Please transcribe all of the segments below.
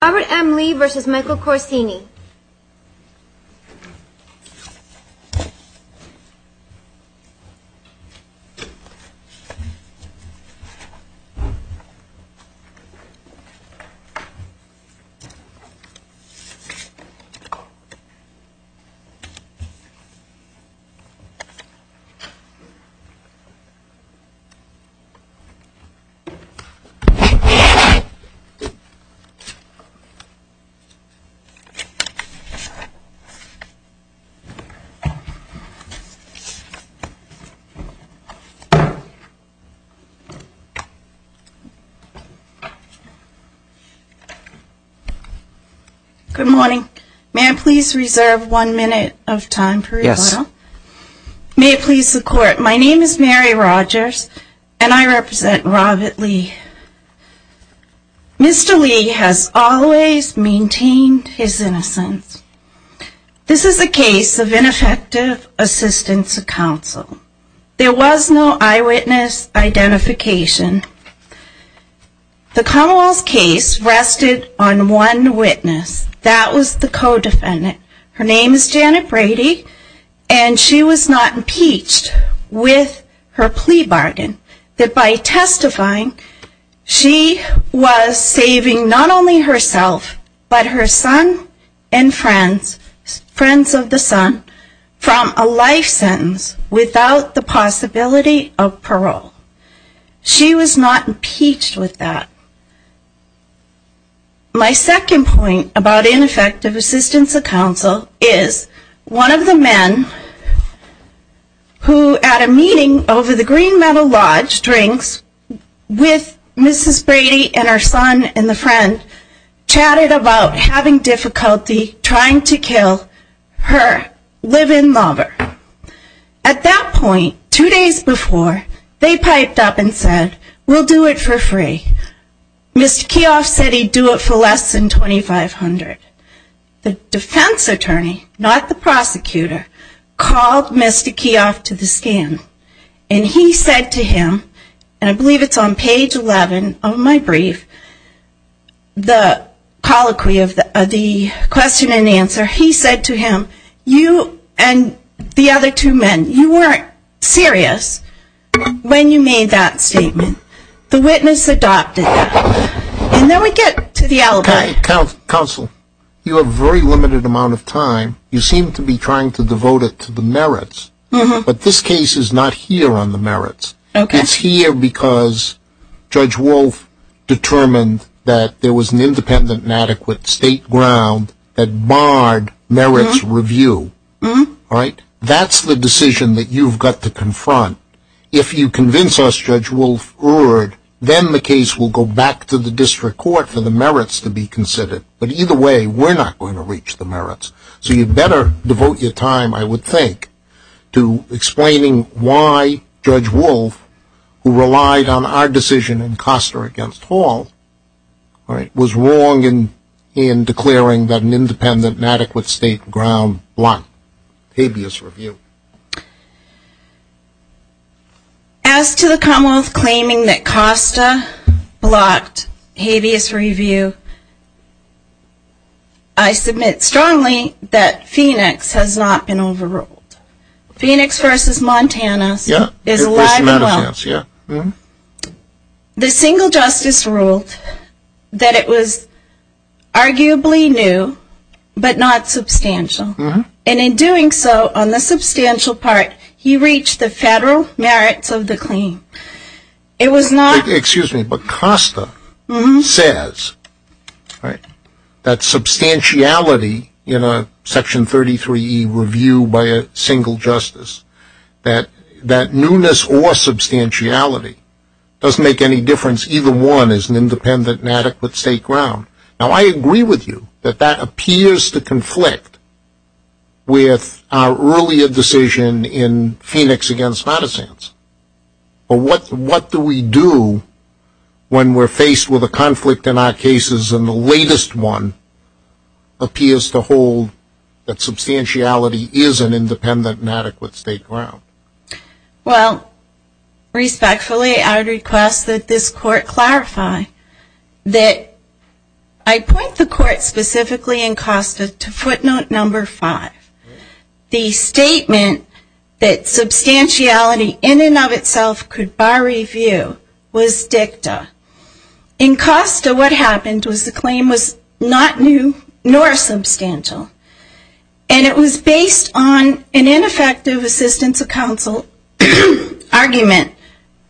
Robert M. Lee v. Michael Corsini Good morning. May I please reserve one minute of time for rebuttal? Yes. May it please the Court, my name is Mary Rogers and I represent Robert Lee. Mr. Lee has always maintained his innocence. This is a case of ineffective assistance of counsel. There was no eyewitness identification. The Commonwealth's case rested on one witness. That was the co-defendant. Her name is Janet Brady and she was not impeached with her plea bargain. That by testifying, she was saving not only herself but her son and friends, friends of the son, from a life sentence without the possibility of parole. She was not impeached with that. My second point about ineffective assistance of counsel is one of the friends of the son who at a meeting over the Green Meadow Lodge drinks with Mrs. Brady and her son and the friend chatted about having difficulty trying to kill her live-in lover. At that point, two days before, they piped up and said, we'll do it for free. Mr. Keehoff said we'd do it for less than $2,500. The defense attorney, not the prosecutor, called Mr. Keehoff to the stand and he said to him, and I believe it's on page 11 of my brief, the colloquy of the question and answer, he said to him, you and the other two men, you weren't serious when you made that statement. The witness adopted that. And then we get to the alibi. Counsel, you have a very limited amount of time. You seem to be trying to devote it to the merits. But this case is not here on the merits. It's here because Judge Wolf determined that there was an independent and adequate state ground that barred merits review. That's the decision that you've got to confront. If you convince us, Judge Wolf, then the case will go back to the district court for the merits to be considered. But either way, we're not going to reach the merits. So you'd better devote your time, I would think, to explaining why Judge Wolf, who relied on our decision in Costa against Hall, was wrong in declaring that an overruled. As to the Commonwealth claiming that Costa blocked habeas review, I submit strongly that Phoenix has not been overruled. Phoenix v. Montana is alive and well. The single justice ruled that it was arguably new, but not substantial. And in doing so, on the substantial part, he reached the federal merits of the claim. It was not Excuse me, but Costa says that substantiality in a Section 33e review by a single justice, that newness or substantiality doesn't make any difference. Either one is an independent and adequate state ground. Now, I agree with you that that appears to conflict with our earlier decision in Phoenix v. Madison. But what do we do when we're faced with a conflict in our cases and the latest one appears to hold that substantiality is an independent and adequate state ground? Well, respectfully, I request that this Court clarify that I point the Court specifically in Costa to footnote number five. The statement that substantiality in and of itself could bar review was dicta. In Costa, what happened was the claim was not new nor substantial. And it was based on an ineffective assistance of counsel argument.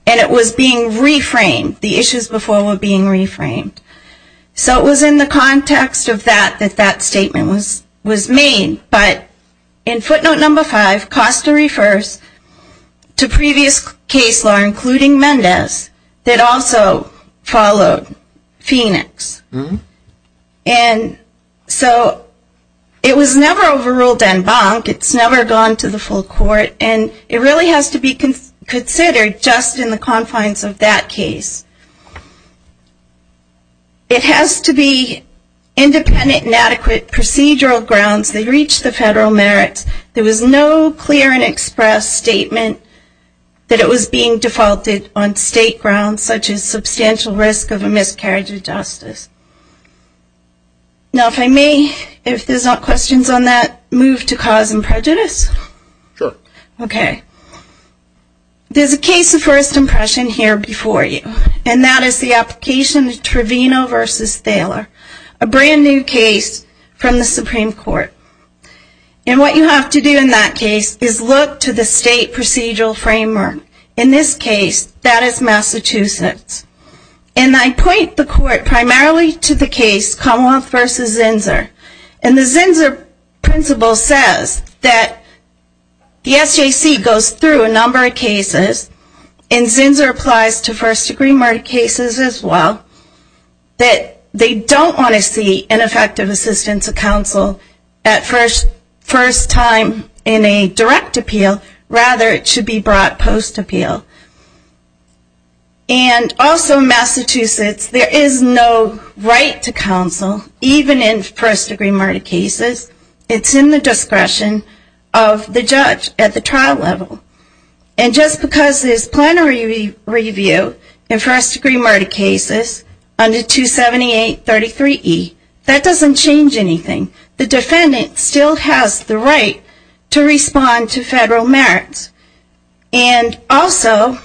And it was being reframed. The issues before were being reframed. So it was in the context of that that that statement was made. But in footnote number five, Costa refers to previous case law, including Mendez, that also followed Phoenix. And so it was never overruled en banc. It's never gone to the full Court. And it really has to be considered just in the confines of that case. It has to be independent and adequate procedural grounds that reach the federal merits. There was no clear and express statement that it was being defaulted on by the state. Now, if I may, if there's not questions on that, move to cause and prejudice? Sure. Okay. There's a case of first impression here before you. And that is the application of Trevino v. Thaler, a brand-new case from the Supreme Court. And what you have to do in that case is look to the state procedural framework. In this case, that is Massachusetts. And I point the Court primarily to the case Commonwealth v. Zinsser. And the Zinsser principle says that the SJC goes through a number of cases, and Zinsser applies to first-degree murder cases as well, that they don't want to see an effective assistance of counsel at first time in a direct appeal. Rather, it should be brought post-appeal. And also, Massachusetts, there is no right to counsel, even in first-degree murder cases. It's in the discretion of the judge at the trial level. And just because there's plenary review in first-degree murder cases under 27833E, that doesn't change anything. The defendant still has the right to respond to federal merits. And also,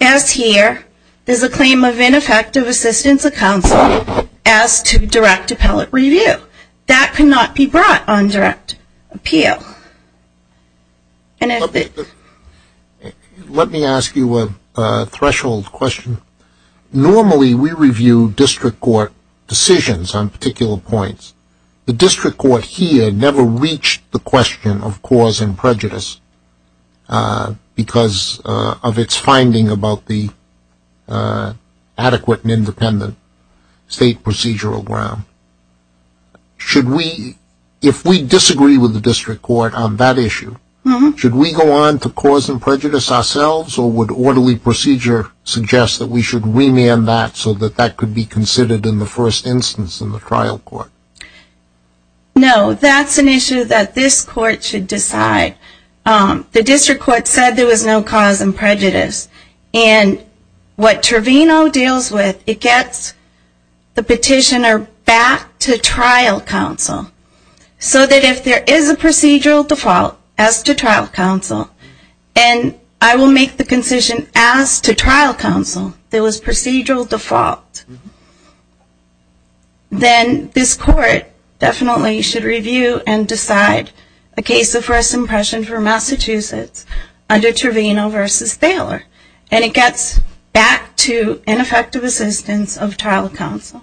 as here, there's a claim of ineffective assistance of counsel as to direct appellate review. That cannot be brought on direct appeal. Let me ask you a threshold question. Normally, we review district court decisions on particular points. The district court here never reached the question of cause and prejudice because of its finding about the adequate and independent state procedural ground. Should we, if we disagree with the district court on that issue, should we go on to cause and prejudice ourselves, or would orderly procedure suggest that we should remand that so that that could be considered in the first instance in the trial court? No, that's an issue that this court should decide. The district court said there was no cause and prejudice. And what Trevino deals with, it gets the petitioner back to trial counsel so that if there is a procedural default as to trial counsel, and I will make the concision as to trial counsel, there was procedural default, then this court definitely should review and decide a case of first impression for Massachusetts under Trevino versus Thaler. And it gets back to ineffective assistance of trial counsel.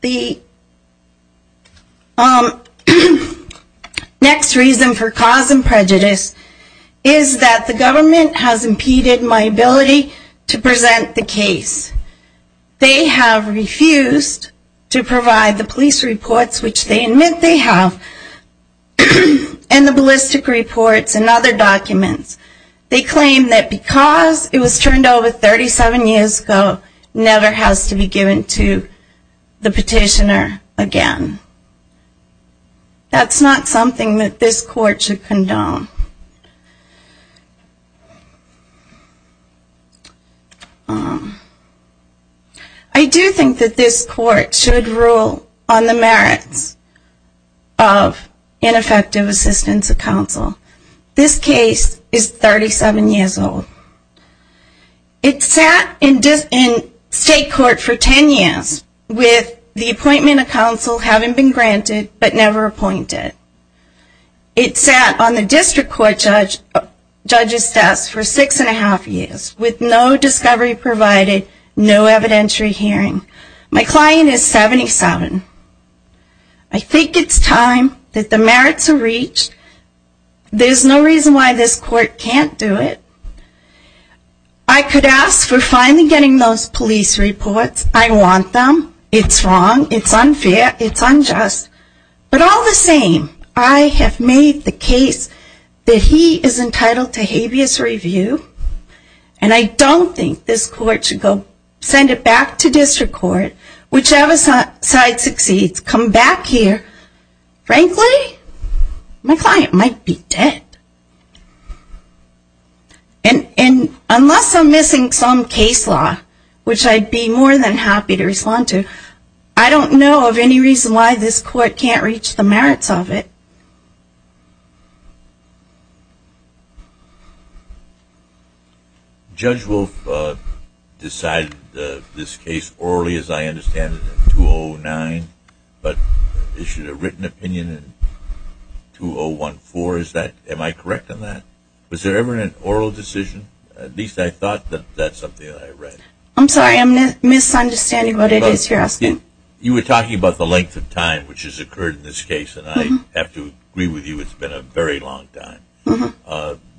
The next reason for cause and prejudice is that the government has impeded my ability to present the case. They have refused to provide the police reports, which they admit they have, and the ballistic reports and other documents. They claim that because it was turned over 37 years ago, never has to be given to the petitioner again. That's not something that this court should condone. I do think that this court should rule on the merits of ineffective assistance of counsel. This case is 37 years old. It sat in state court for 10 years with the appointment of counsel having been granted but never appointed. It sat on the district court judge's desk for six and a half years with no discovery provided, no evidentiary hearing. My client is 77. I think it's time that the merits are reached. There's no reason why this court can't do it. I could ask for finally getting those police reports. I want them. It's wrong. It's unfair. It's unjust. But all the same, I have made the case that he is entitled to habeas review, and I don't think this court should go send it back to district court, whichever side succeeds, come back here. Frankly, my client might be dead. Unless I'm missing some case law, which I'd be more than happy to respond to, I don't know of any reason why this court can't reach the merits of it. Judge Wolf decided this case orally, as I understand it, in 2009, but issued a written opinion in 2014. Am I correct on that? Was there ever an oral decision? At least I thought that that's something that I read. I'm sorry, I'm misunderstanding what it is you're asking. You were talking about the length of time which has occurred in this case, and I have to agree with you it's been a very long time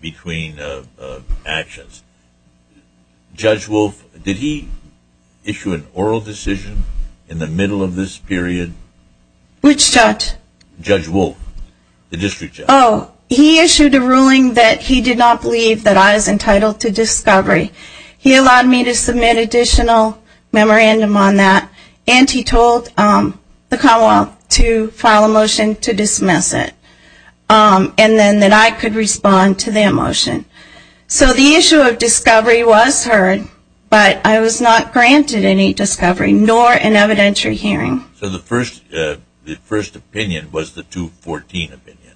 between actions. Judge Wolf, did he issue an oral decision in the middle of this period? Which judge? Judge Wolf, the district judge. Oh, he issued a ruling that he did not believe that I was entitled to discovery. He allowed me to submit additional memorandum on that, and he told the Commonwealth to file a motion to dismiss it, and then that I could respond to that motion. So the issue of discovery was heard, but I was not granted any discovery, nor an evidentiary hearing. So the first opinion was the 2014 opinion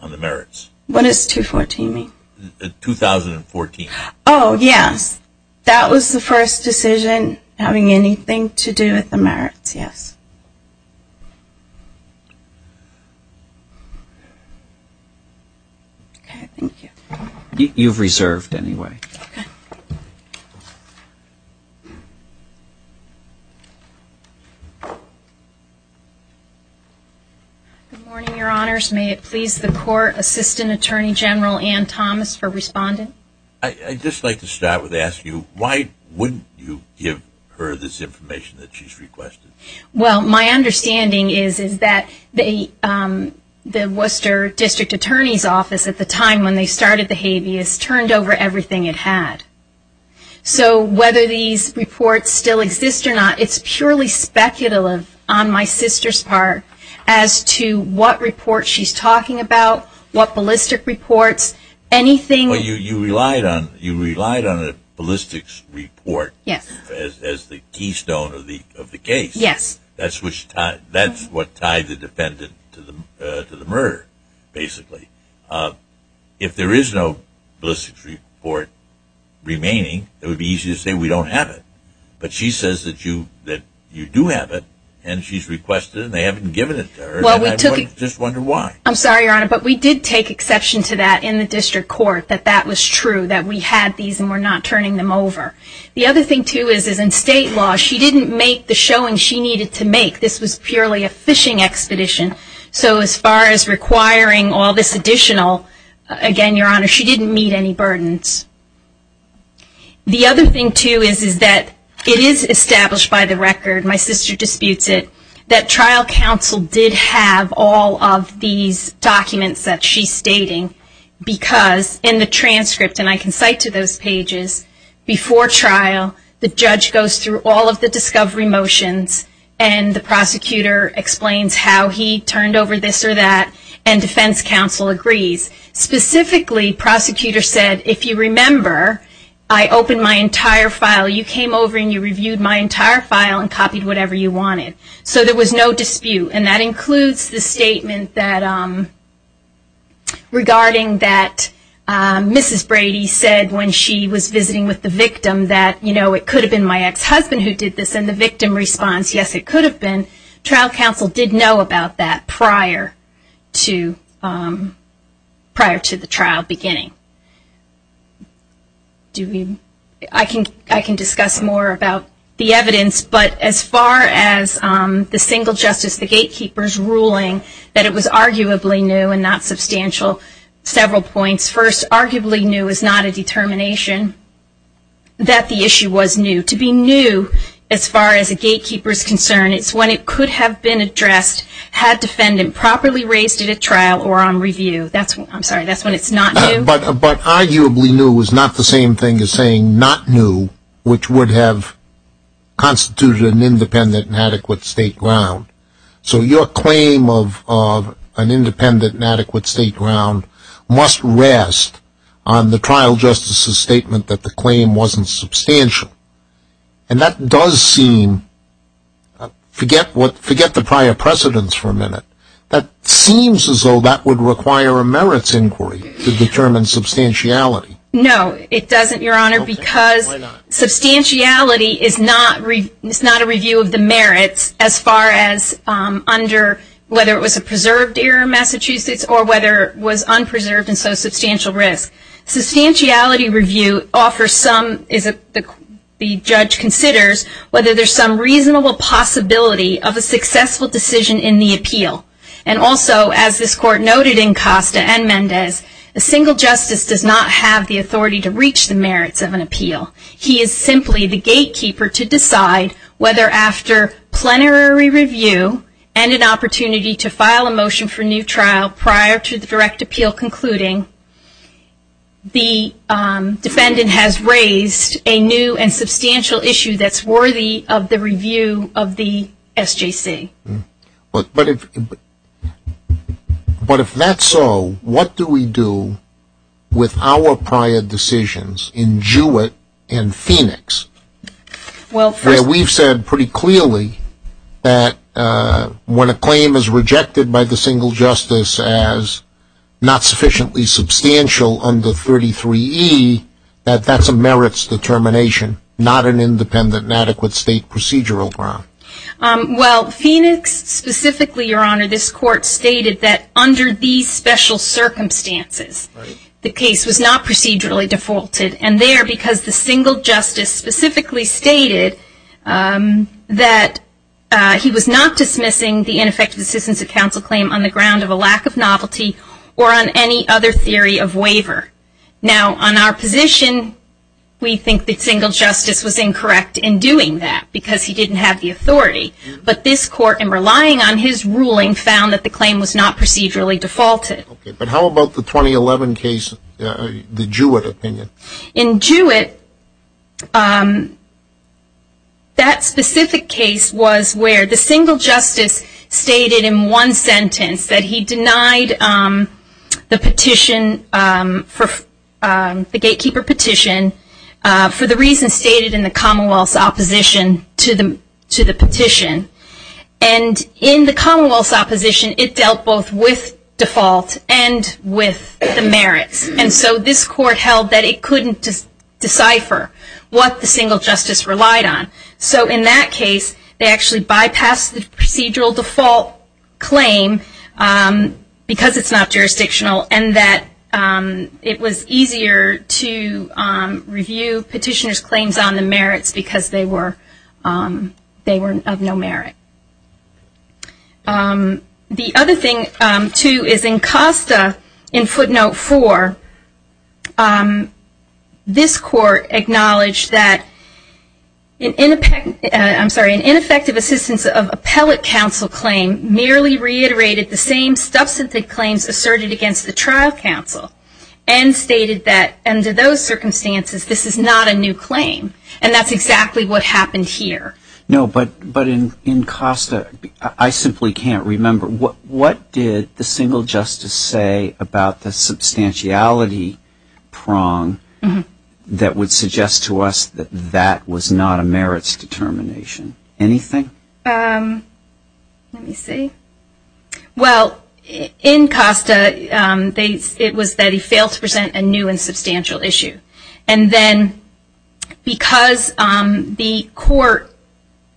on the merits? What does 2014 mean? 2014. Oh, yes, that was the first decision having anything to do with the merits, yes. Okay, thank you. You've reserved anyway. Okay. Good morning, Your Honors. May it please the Court Assistant Attorney General Ann Thomas for responding? I'd just like to start with asking you, why wouldn't you give her this information that she's requested? Well, my understanding is that the Worcester District Attorney's Office at the time when they started the habeas turned over everything it had. So whether these reports still exist or not, it's purely speculative on my sister's part as to what report she's talking about, what ballistic reports, anything. Well, you relied on a ballistics report as the keystone of the case. Yes. That's what tied the defendant to the murder, basically. If there is no ballistics report remaining, it would be easy to say we don't have it. But she says that you do have it, and she's requested it, and they haven't given it to her, and I just wonder why. I'm sorry, Your Honor, but we did take exception to that in the district court, that that was true, that we had these and were not turning them over. The other thing, too, is in state law, she didn't make the showing she needed to make. This was purely a fishing expedition. So as far as requiring all this additional, again, Your Honor, she didn't meet any burdens. The other thing, too, is that it is established by the record, my sister disputes it, that trial counsel did have all of these documents that she's stating, because in the transcript, and I can cite to those pages, before trial, the judge goes through all of the discovery motions, and the prosecutor explains how he turned over this or that, and defense counsel agrees. Specifically, prosecutor said, if you remember, I opened my entire file. You came over and you reviewed my entire file and copied whatever you wanted. So there was no dispute, and that includes the statement regarding that Mrs. Brady said when she was visiting with the victim, that it could have been my ex-husband who did this, and the victim responds, yes, it could have been. Trial counsel did know about that prior to the trial beginning. I can discuss more about the evidence, but as far as the single justice, the gatekeeper's ruling, that it was arguably new and not substantial, several points. First, arguably new is not a determination that the issue was new. To be new, as far as a gatekeeper is concerned, is when it could have been addressed had defendant properly raised it at trial or on review. I'm sorry, that's when it's not new. But arguably new is not the same thing as saying not new, which would have constituted an independent and adequate state ground. So your claim of an independent and adequate state ground must rest on the trial justice's statement that the claim wasn't substantial. And that does seem, forget the prior precedents for a minute, that seems as though that would require a merits inquiry to determine substantiality. No, it doesn't, Your Honor, because substantiality is not a review of the merits as far as under whether it was a preserved error in Massachusetts or whether it was unpreserved and so substantial risk. Sustantiality review offers some, the judge considers, whether there's some reasonable possibility of a successful decision in the appeal. And also, as this Court noted in Costa and Mendez, a single justice does not have the authority to reach the merits of an appeal. He is simply the gatekeeper to decide whether after plenary review and an opportunity to file a motion for new trial prior to the direct appeal concluding, the defendant has raised a new and substantial issue that's worthy of the review of the SJC. But if that's so, what do we do with our prior decisions in Jewett and Phoenix? Where we've said pretty clearly that when a claim is rejected by the single justice as not sufficiently substantial under 33E, that that's a merits determination, not an independent and adequate state procedural ground. Well, Phoenix specifically, Your Honor, this Court stated that under these special circumstances, the case was not procedurally defaulted. And there, because the single justice specifically stated that he was not dismissing the ineffective assistance of counsel claim on the ground of a lack of novelty or on any other theory of waiver. Now, on our position, we think the single justice was incorrect in doing that because he didn't have the authority. But this Court, in relying on his ruling, found that the claim was not procedurally defaulted. But how about the 2011 case, the Jewett opinion? In Jewett, that specific case was where the single justice stated in one sentence that he denied the petition, the gatekeeper petition, for the reasons stated in the Commonwealth's opposition to the petition. And in the Commonwealth's opposition, it dealt both with default and with the merits. And so this Court held that it couldn't decipher what the single justice relied on. So in that case, they actually bypassed the procedural default claim because it's not jurisdictional and that it was easier to review petitioner's claims on the merits because they were of no merit. The other thing, too, is in Costa, in footnote 4, this Court acknowledged that an ineffective assistance of appellate counsel claim merely reiterated the same substantive claims asserted against the trial counsel and stated that, under those circumstances, this is not a new claim. And that's exactly what happened here. No, but in Costa, I simply can't remember. What did the single justice say about the substantiality prong that would suggest to us that that was not a merits determination? Anything? Let me see. Well, in Costa, it was that he failed to present a new and substantial issue. And then because the court,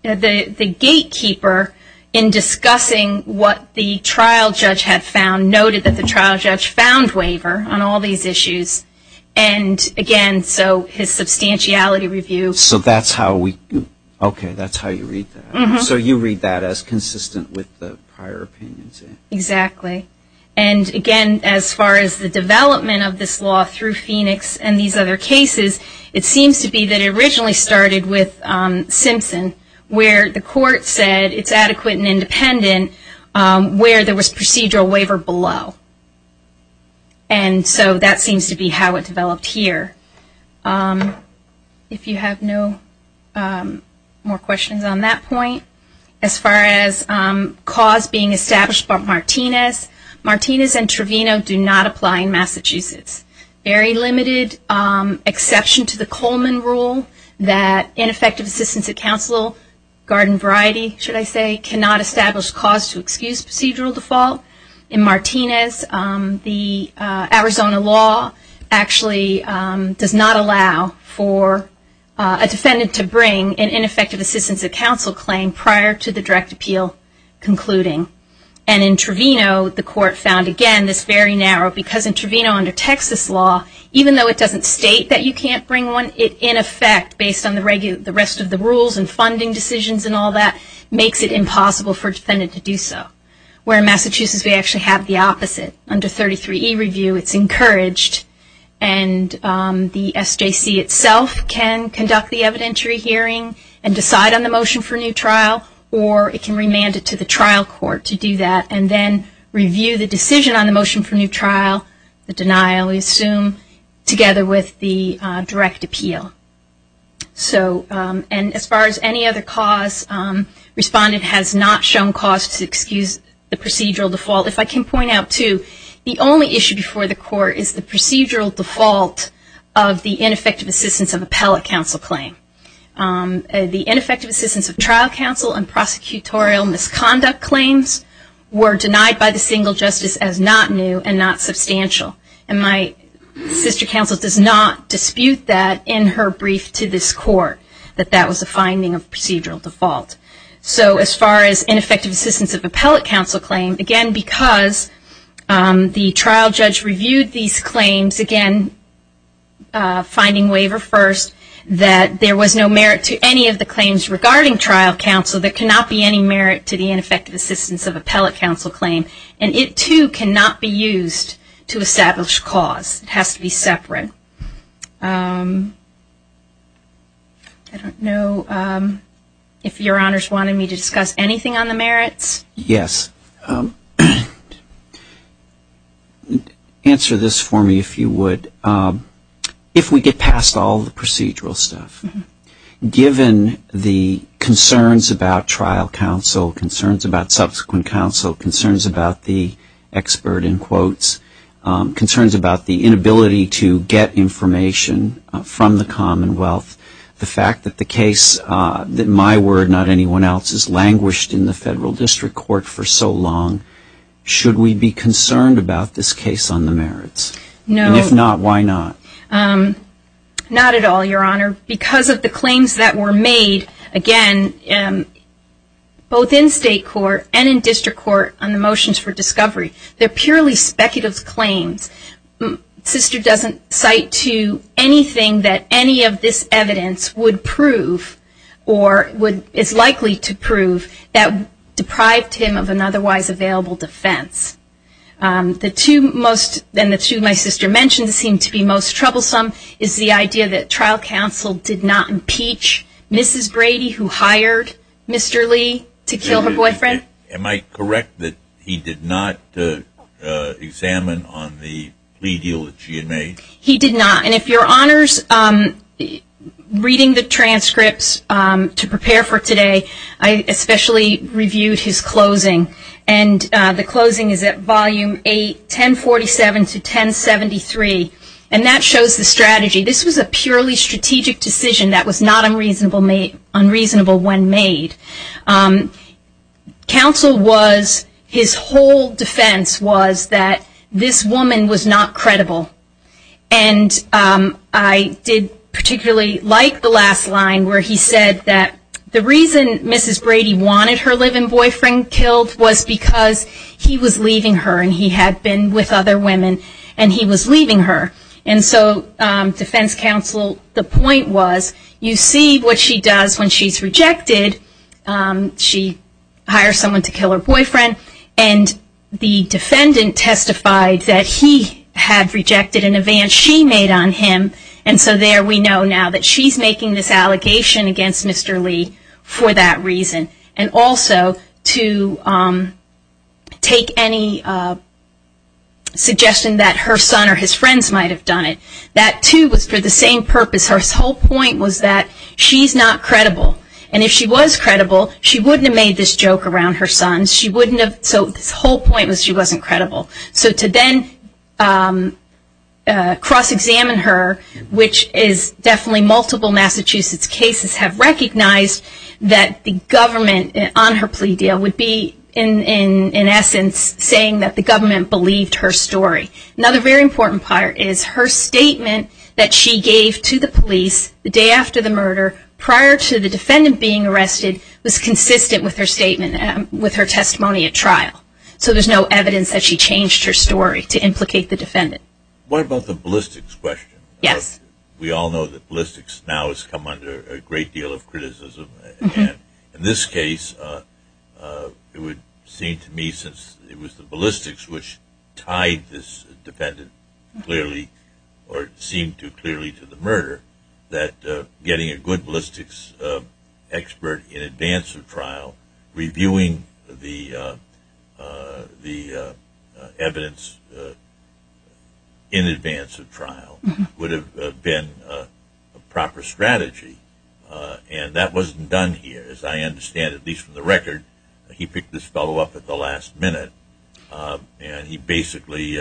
the gatekeeper, in discussing what the trial judge had found, noted that the trial judge found waiver on all these issues. And, again, so his substantiality review. So that's how we do it. Okay, that's how you read that. So you read that as consistent with the prior opinions. Exactly. And, again, as far as the development of this law through Phoenix and these other cases, it seems to be that it originally started with Simpson where the court said it's adequate and independent where there was procedural waiver below. And so that seems to be how it developed here. If you have no more questions on that point. As far as cause being established by Martinez, Martinez and Trevino do not apply in Massachusetts. Very limited exception to the Coleman rule that ineffective assistance at counsel, garden variety, should I say, cannot establish cause to excuse procedural default. In Martinez, the Arizona law actually does not allow for a defendant to bring an ineffective assistance at counsel claim prior to the direct appeal concluding. And in Trevino, the court found, again, this very narrow. Because in Trevino under Texas law, even though it doesn't state that you can't bring one, in effect, based on the rest of the rules and funding decisions and all that, makes it impossible for a defendant to do so. Where in Massachusetts, we actually have the opposite. Under 33E review, it's encouraged and the SJC itself can conduct the evidentiary hearing and decide on the motion for new trial or it can remand it to the trial court to do that and then review the decision on the motion for new trial, the denial, we assume, together with the direct appeal. So, and as far as any other cause, respondent has not shown cause to excuse the procedural default. If I can point out, too, the only issue before the court is the procedural default of the ineffective assistance of appellate counsel claim. The ineffective assistance of trial counsel and prosecutorial misconduct claims were denied by the single justice as not new and not substantial. And my sister counsel does not dispute that in her brief to this court, that that was a finding of procedural default. So as far as ineffective assistance of appellate counsel claim, again, because the trial judge reviewed these claims, again, finding waiver first, that there was no merit to any of the claims regarding trial counsel, there cannot be any merit to the ineffective assistance of appellate counsel claim. And it, too, cannot be used to establish cause. It has to be separate. I don't know if Your Honors wanted me to discuss anything on the merits. Yes. Answer this for me, if you would. If we get past all the procedural stuff, given the concerns about trial counsel, concerns about subsequent counsel, concerns about the expert in quotes, concerns about the inability to get information from the Commonwealth, the fact that the case, that my word, not anyone else's, languished in the Federal District Court for so long, should we be concerned about this case on the merits? No. And if not, why not? Not at all, Your Honor. Because of the claims that were made, again, both in state court and in district court on the motions for discovery, they're purely speculative claims. Sister doesn't cite to anything that any of this evidence would prove or is likely to prove that deprived him of an otherwise available defense. The two most, and the two my sister mentioned, seem to be most troublesome is the idea that trial counsel did not impeach Mrs. Brady, who hired Mr. Lee to kill her boyfriend. Am I correct that he did not examine on the plea deal that she had made? He did not. And if Your Honors, reading the transcripts to prepare for today, I especially reviewed his closing. And the closing is at volume 8, 1047 to 1073. And that shows the strategy. This was a purely strategic decision that was not unreasonable when made. Counsel was, his whole defense was that this woman was not credible. And I did particularly like the last line where he said that the reason Mrs. Brady wanted her live-in boyfriend killed was because he was leaving her and he had been with other women and he was leaving her. And so defense counsel, the point was, you see what she does when she's rejected. She hires someone to kill her boyfriend, and the defendant testified that he had rejected an advance she made on him. And so there we know now that she's making this allegation against Mr. Lee for that reason. And also to take any suggestion that her son or his friends might have done it. That, too, was for the same purpose. Her whole point was that she's not credible. And if she was credible, she wouldn't have made this joke around her son. So the whole point was she wasn't credible. So to then cross-examine her, which is definitely multiple Massachusetts cases have recognized that the government on her plea deal would be, in essence, saying that the government believed her story. Another very important part is her statement that she gave to the police the day after the murder, prior to the defendant being arrested, was consistent with her testimony at trial. So there's no evidence that she changed her story to implicate the defendant. What about the ballistics question? Yes. We all know that ballistics now has come under a great deal of criticism. In this case, it would seem to me since it was the ballistics which tied this that getting a good ballistics expert in advance of trial, reviewing the evidence in advance of trial, would have been a proper strategy. And that wasn't done here. As I understand, at least from the record, he picked this fellow up at the last minute and he basically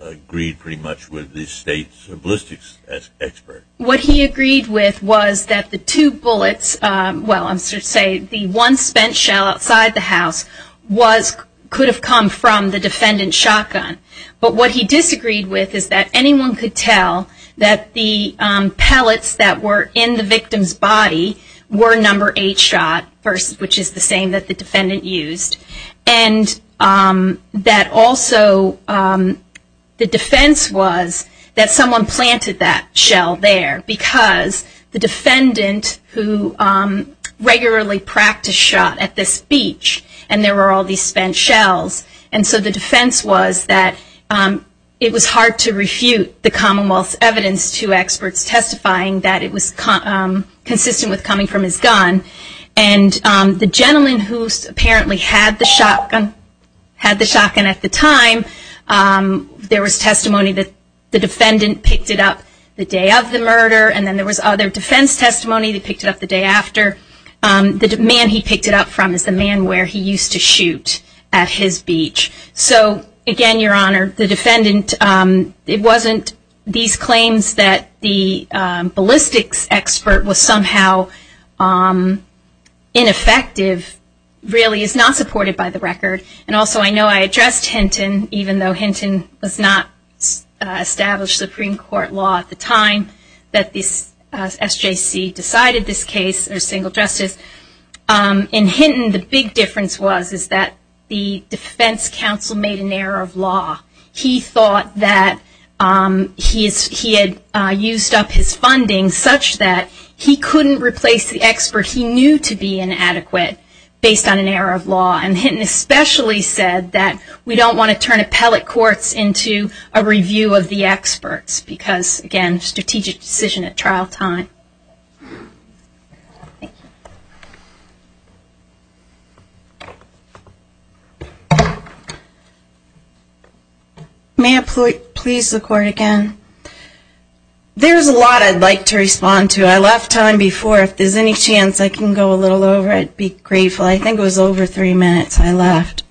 agreed pretty much with the state's ballistics expert. What he agreed with was that the two bullets, well, I should say, the one spent shell outside the house could have come from the defendant's shotgun. But what he disagreed with is that anyone could tell that the pellets that were in the victim's body were number eight shot, which is the same that the defendant used. And that also the defense was that someone planted that shell there because the defendant who regularly practiced shot at this beach and there were all these spent shells. And so the defense was that it was hard to refute the Commonwealth's evidence to experts testifying that it was consistent with coming from his gun. And the gentleman who apparently had the shotgun at the time, there was testimony that the defendant picked it up the day of the murder and then there was other defense testimony. He picked it up the day after. The man he picked it up from is the man where he used to shoot at his beach. So again, Your Honor, the defendant, it wasn't these claims that the ballistics expert was somehow ineffective really is not supported by the record. And also I know I addressed Hinton, even though Hinton was not established Supreme Court law at the time that this SJC decided this case or single justice. In Hinton the big difference was that the defense counsel made an error of law. He thought that he had used up his funding such that he couldn't replace the expert he knew to be inadequate based on an error of law. And Hinton especially said that we don't want to turn appellate courts into a review of the experts because, again, strategic decision at trial time. Thank you. May I please record again? There's a lot I'd like to respond to. I left time before. If there's any chance I can go a little over, I'd be grateful. I think it was over three minutes I left.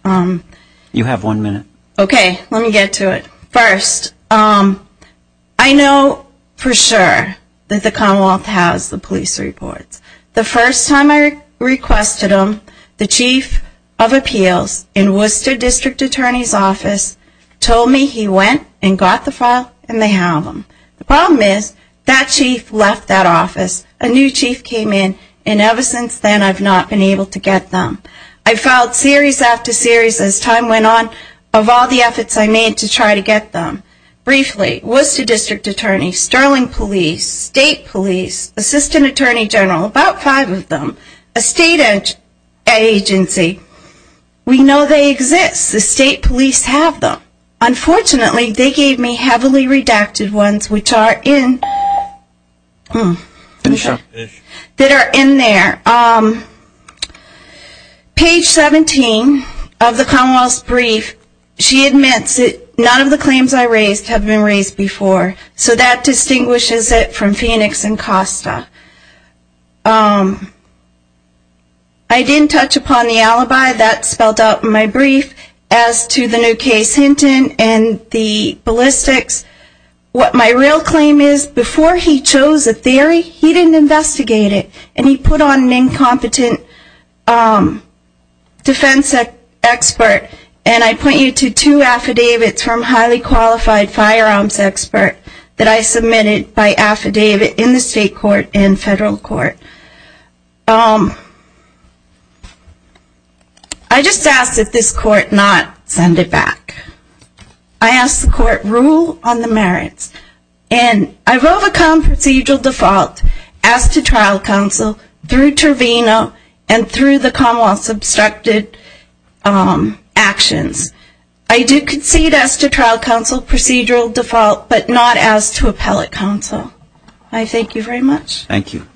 You have one minute. Okay. Let me get to it. First, I know for sure that the Commonwealth has the police reports. The first time I requested them, the chief of appeals in Worcester District Attorney's Office told me he went and got the file and they have them. The problem is that chief left that office. A new chief came in and ever since then I've not been able to get them. I filed series after series as time went on of all the efforts I made to try to get them. Briefly, Worcester District Attorney, Sterling Police, State Police, Assistant Attorney General, about five of them, a state agency. We know they exist. The state police have them. Page 17 of the Commonwealth's brief, she admits none of the claims I raised have been raised before. So that distinguishes it from Phoenix and Costa. I didn't touch upon the alibi that's spelled out in my brief as to the new case Hinton and the ballistics. What my real claim is before he chose a theory, he didn't investigate it and he put on an incompetent defense expert and I point you to two affidavits from highly qualified firearms experts that I submitted by affidavit in the state court and federal court. I just asked that this court not send it back. I asked the court rule on the merits. I wrote a common procedural default as to trial counsel through Trevino and through the Commonwealth's obstructed actions. I do concede as to trial counsel procedural default but not as to appellate counsel. I thank you very much. Thank you.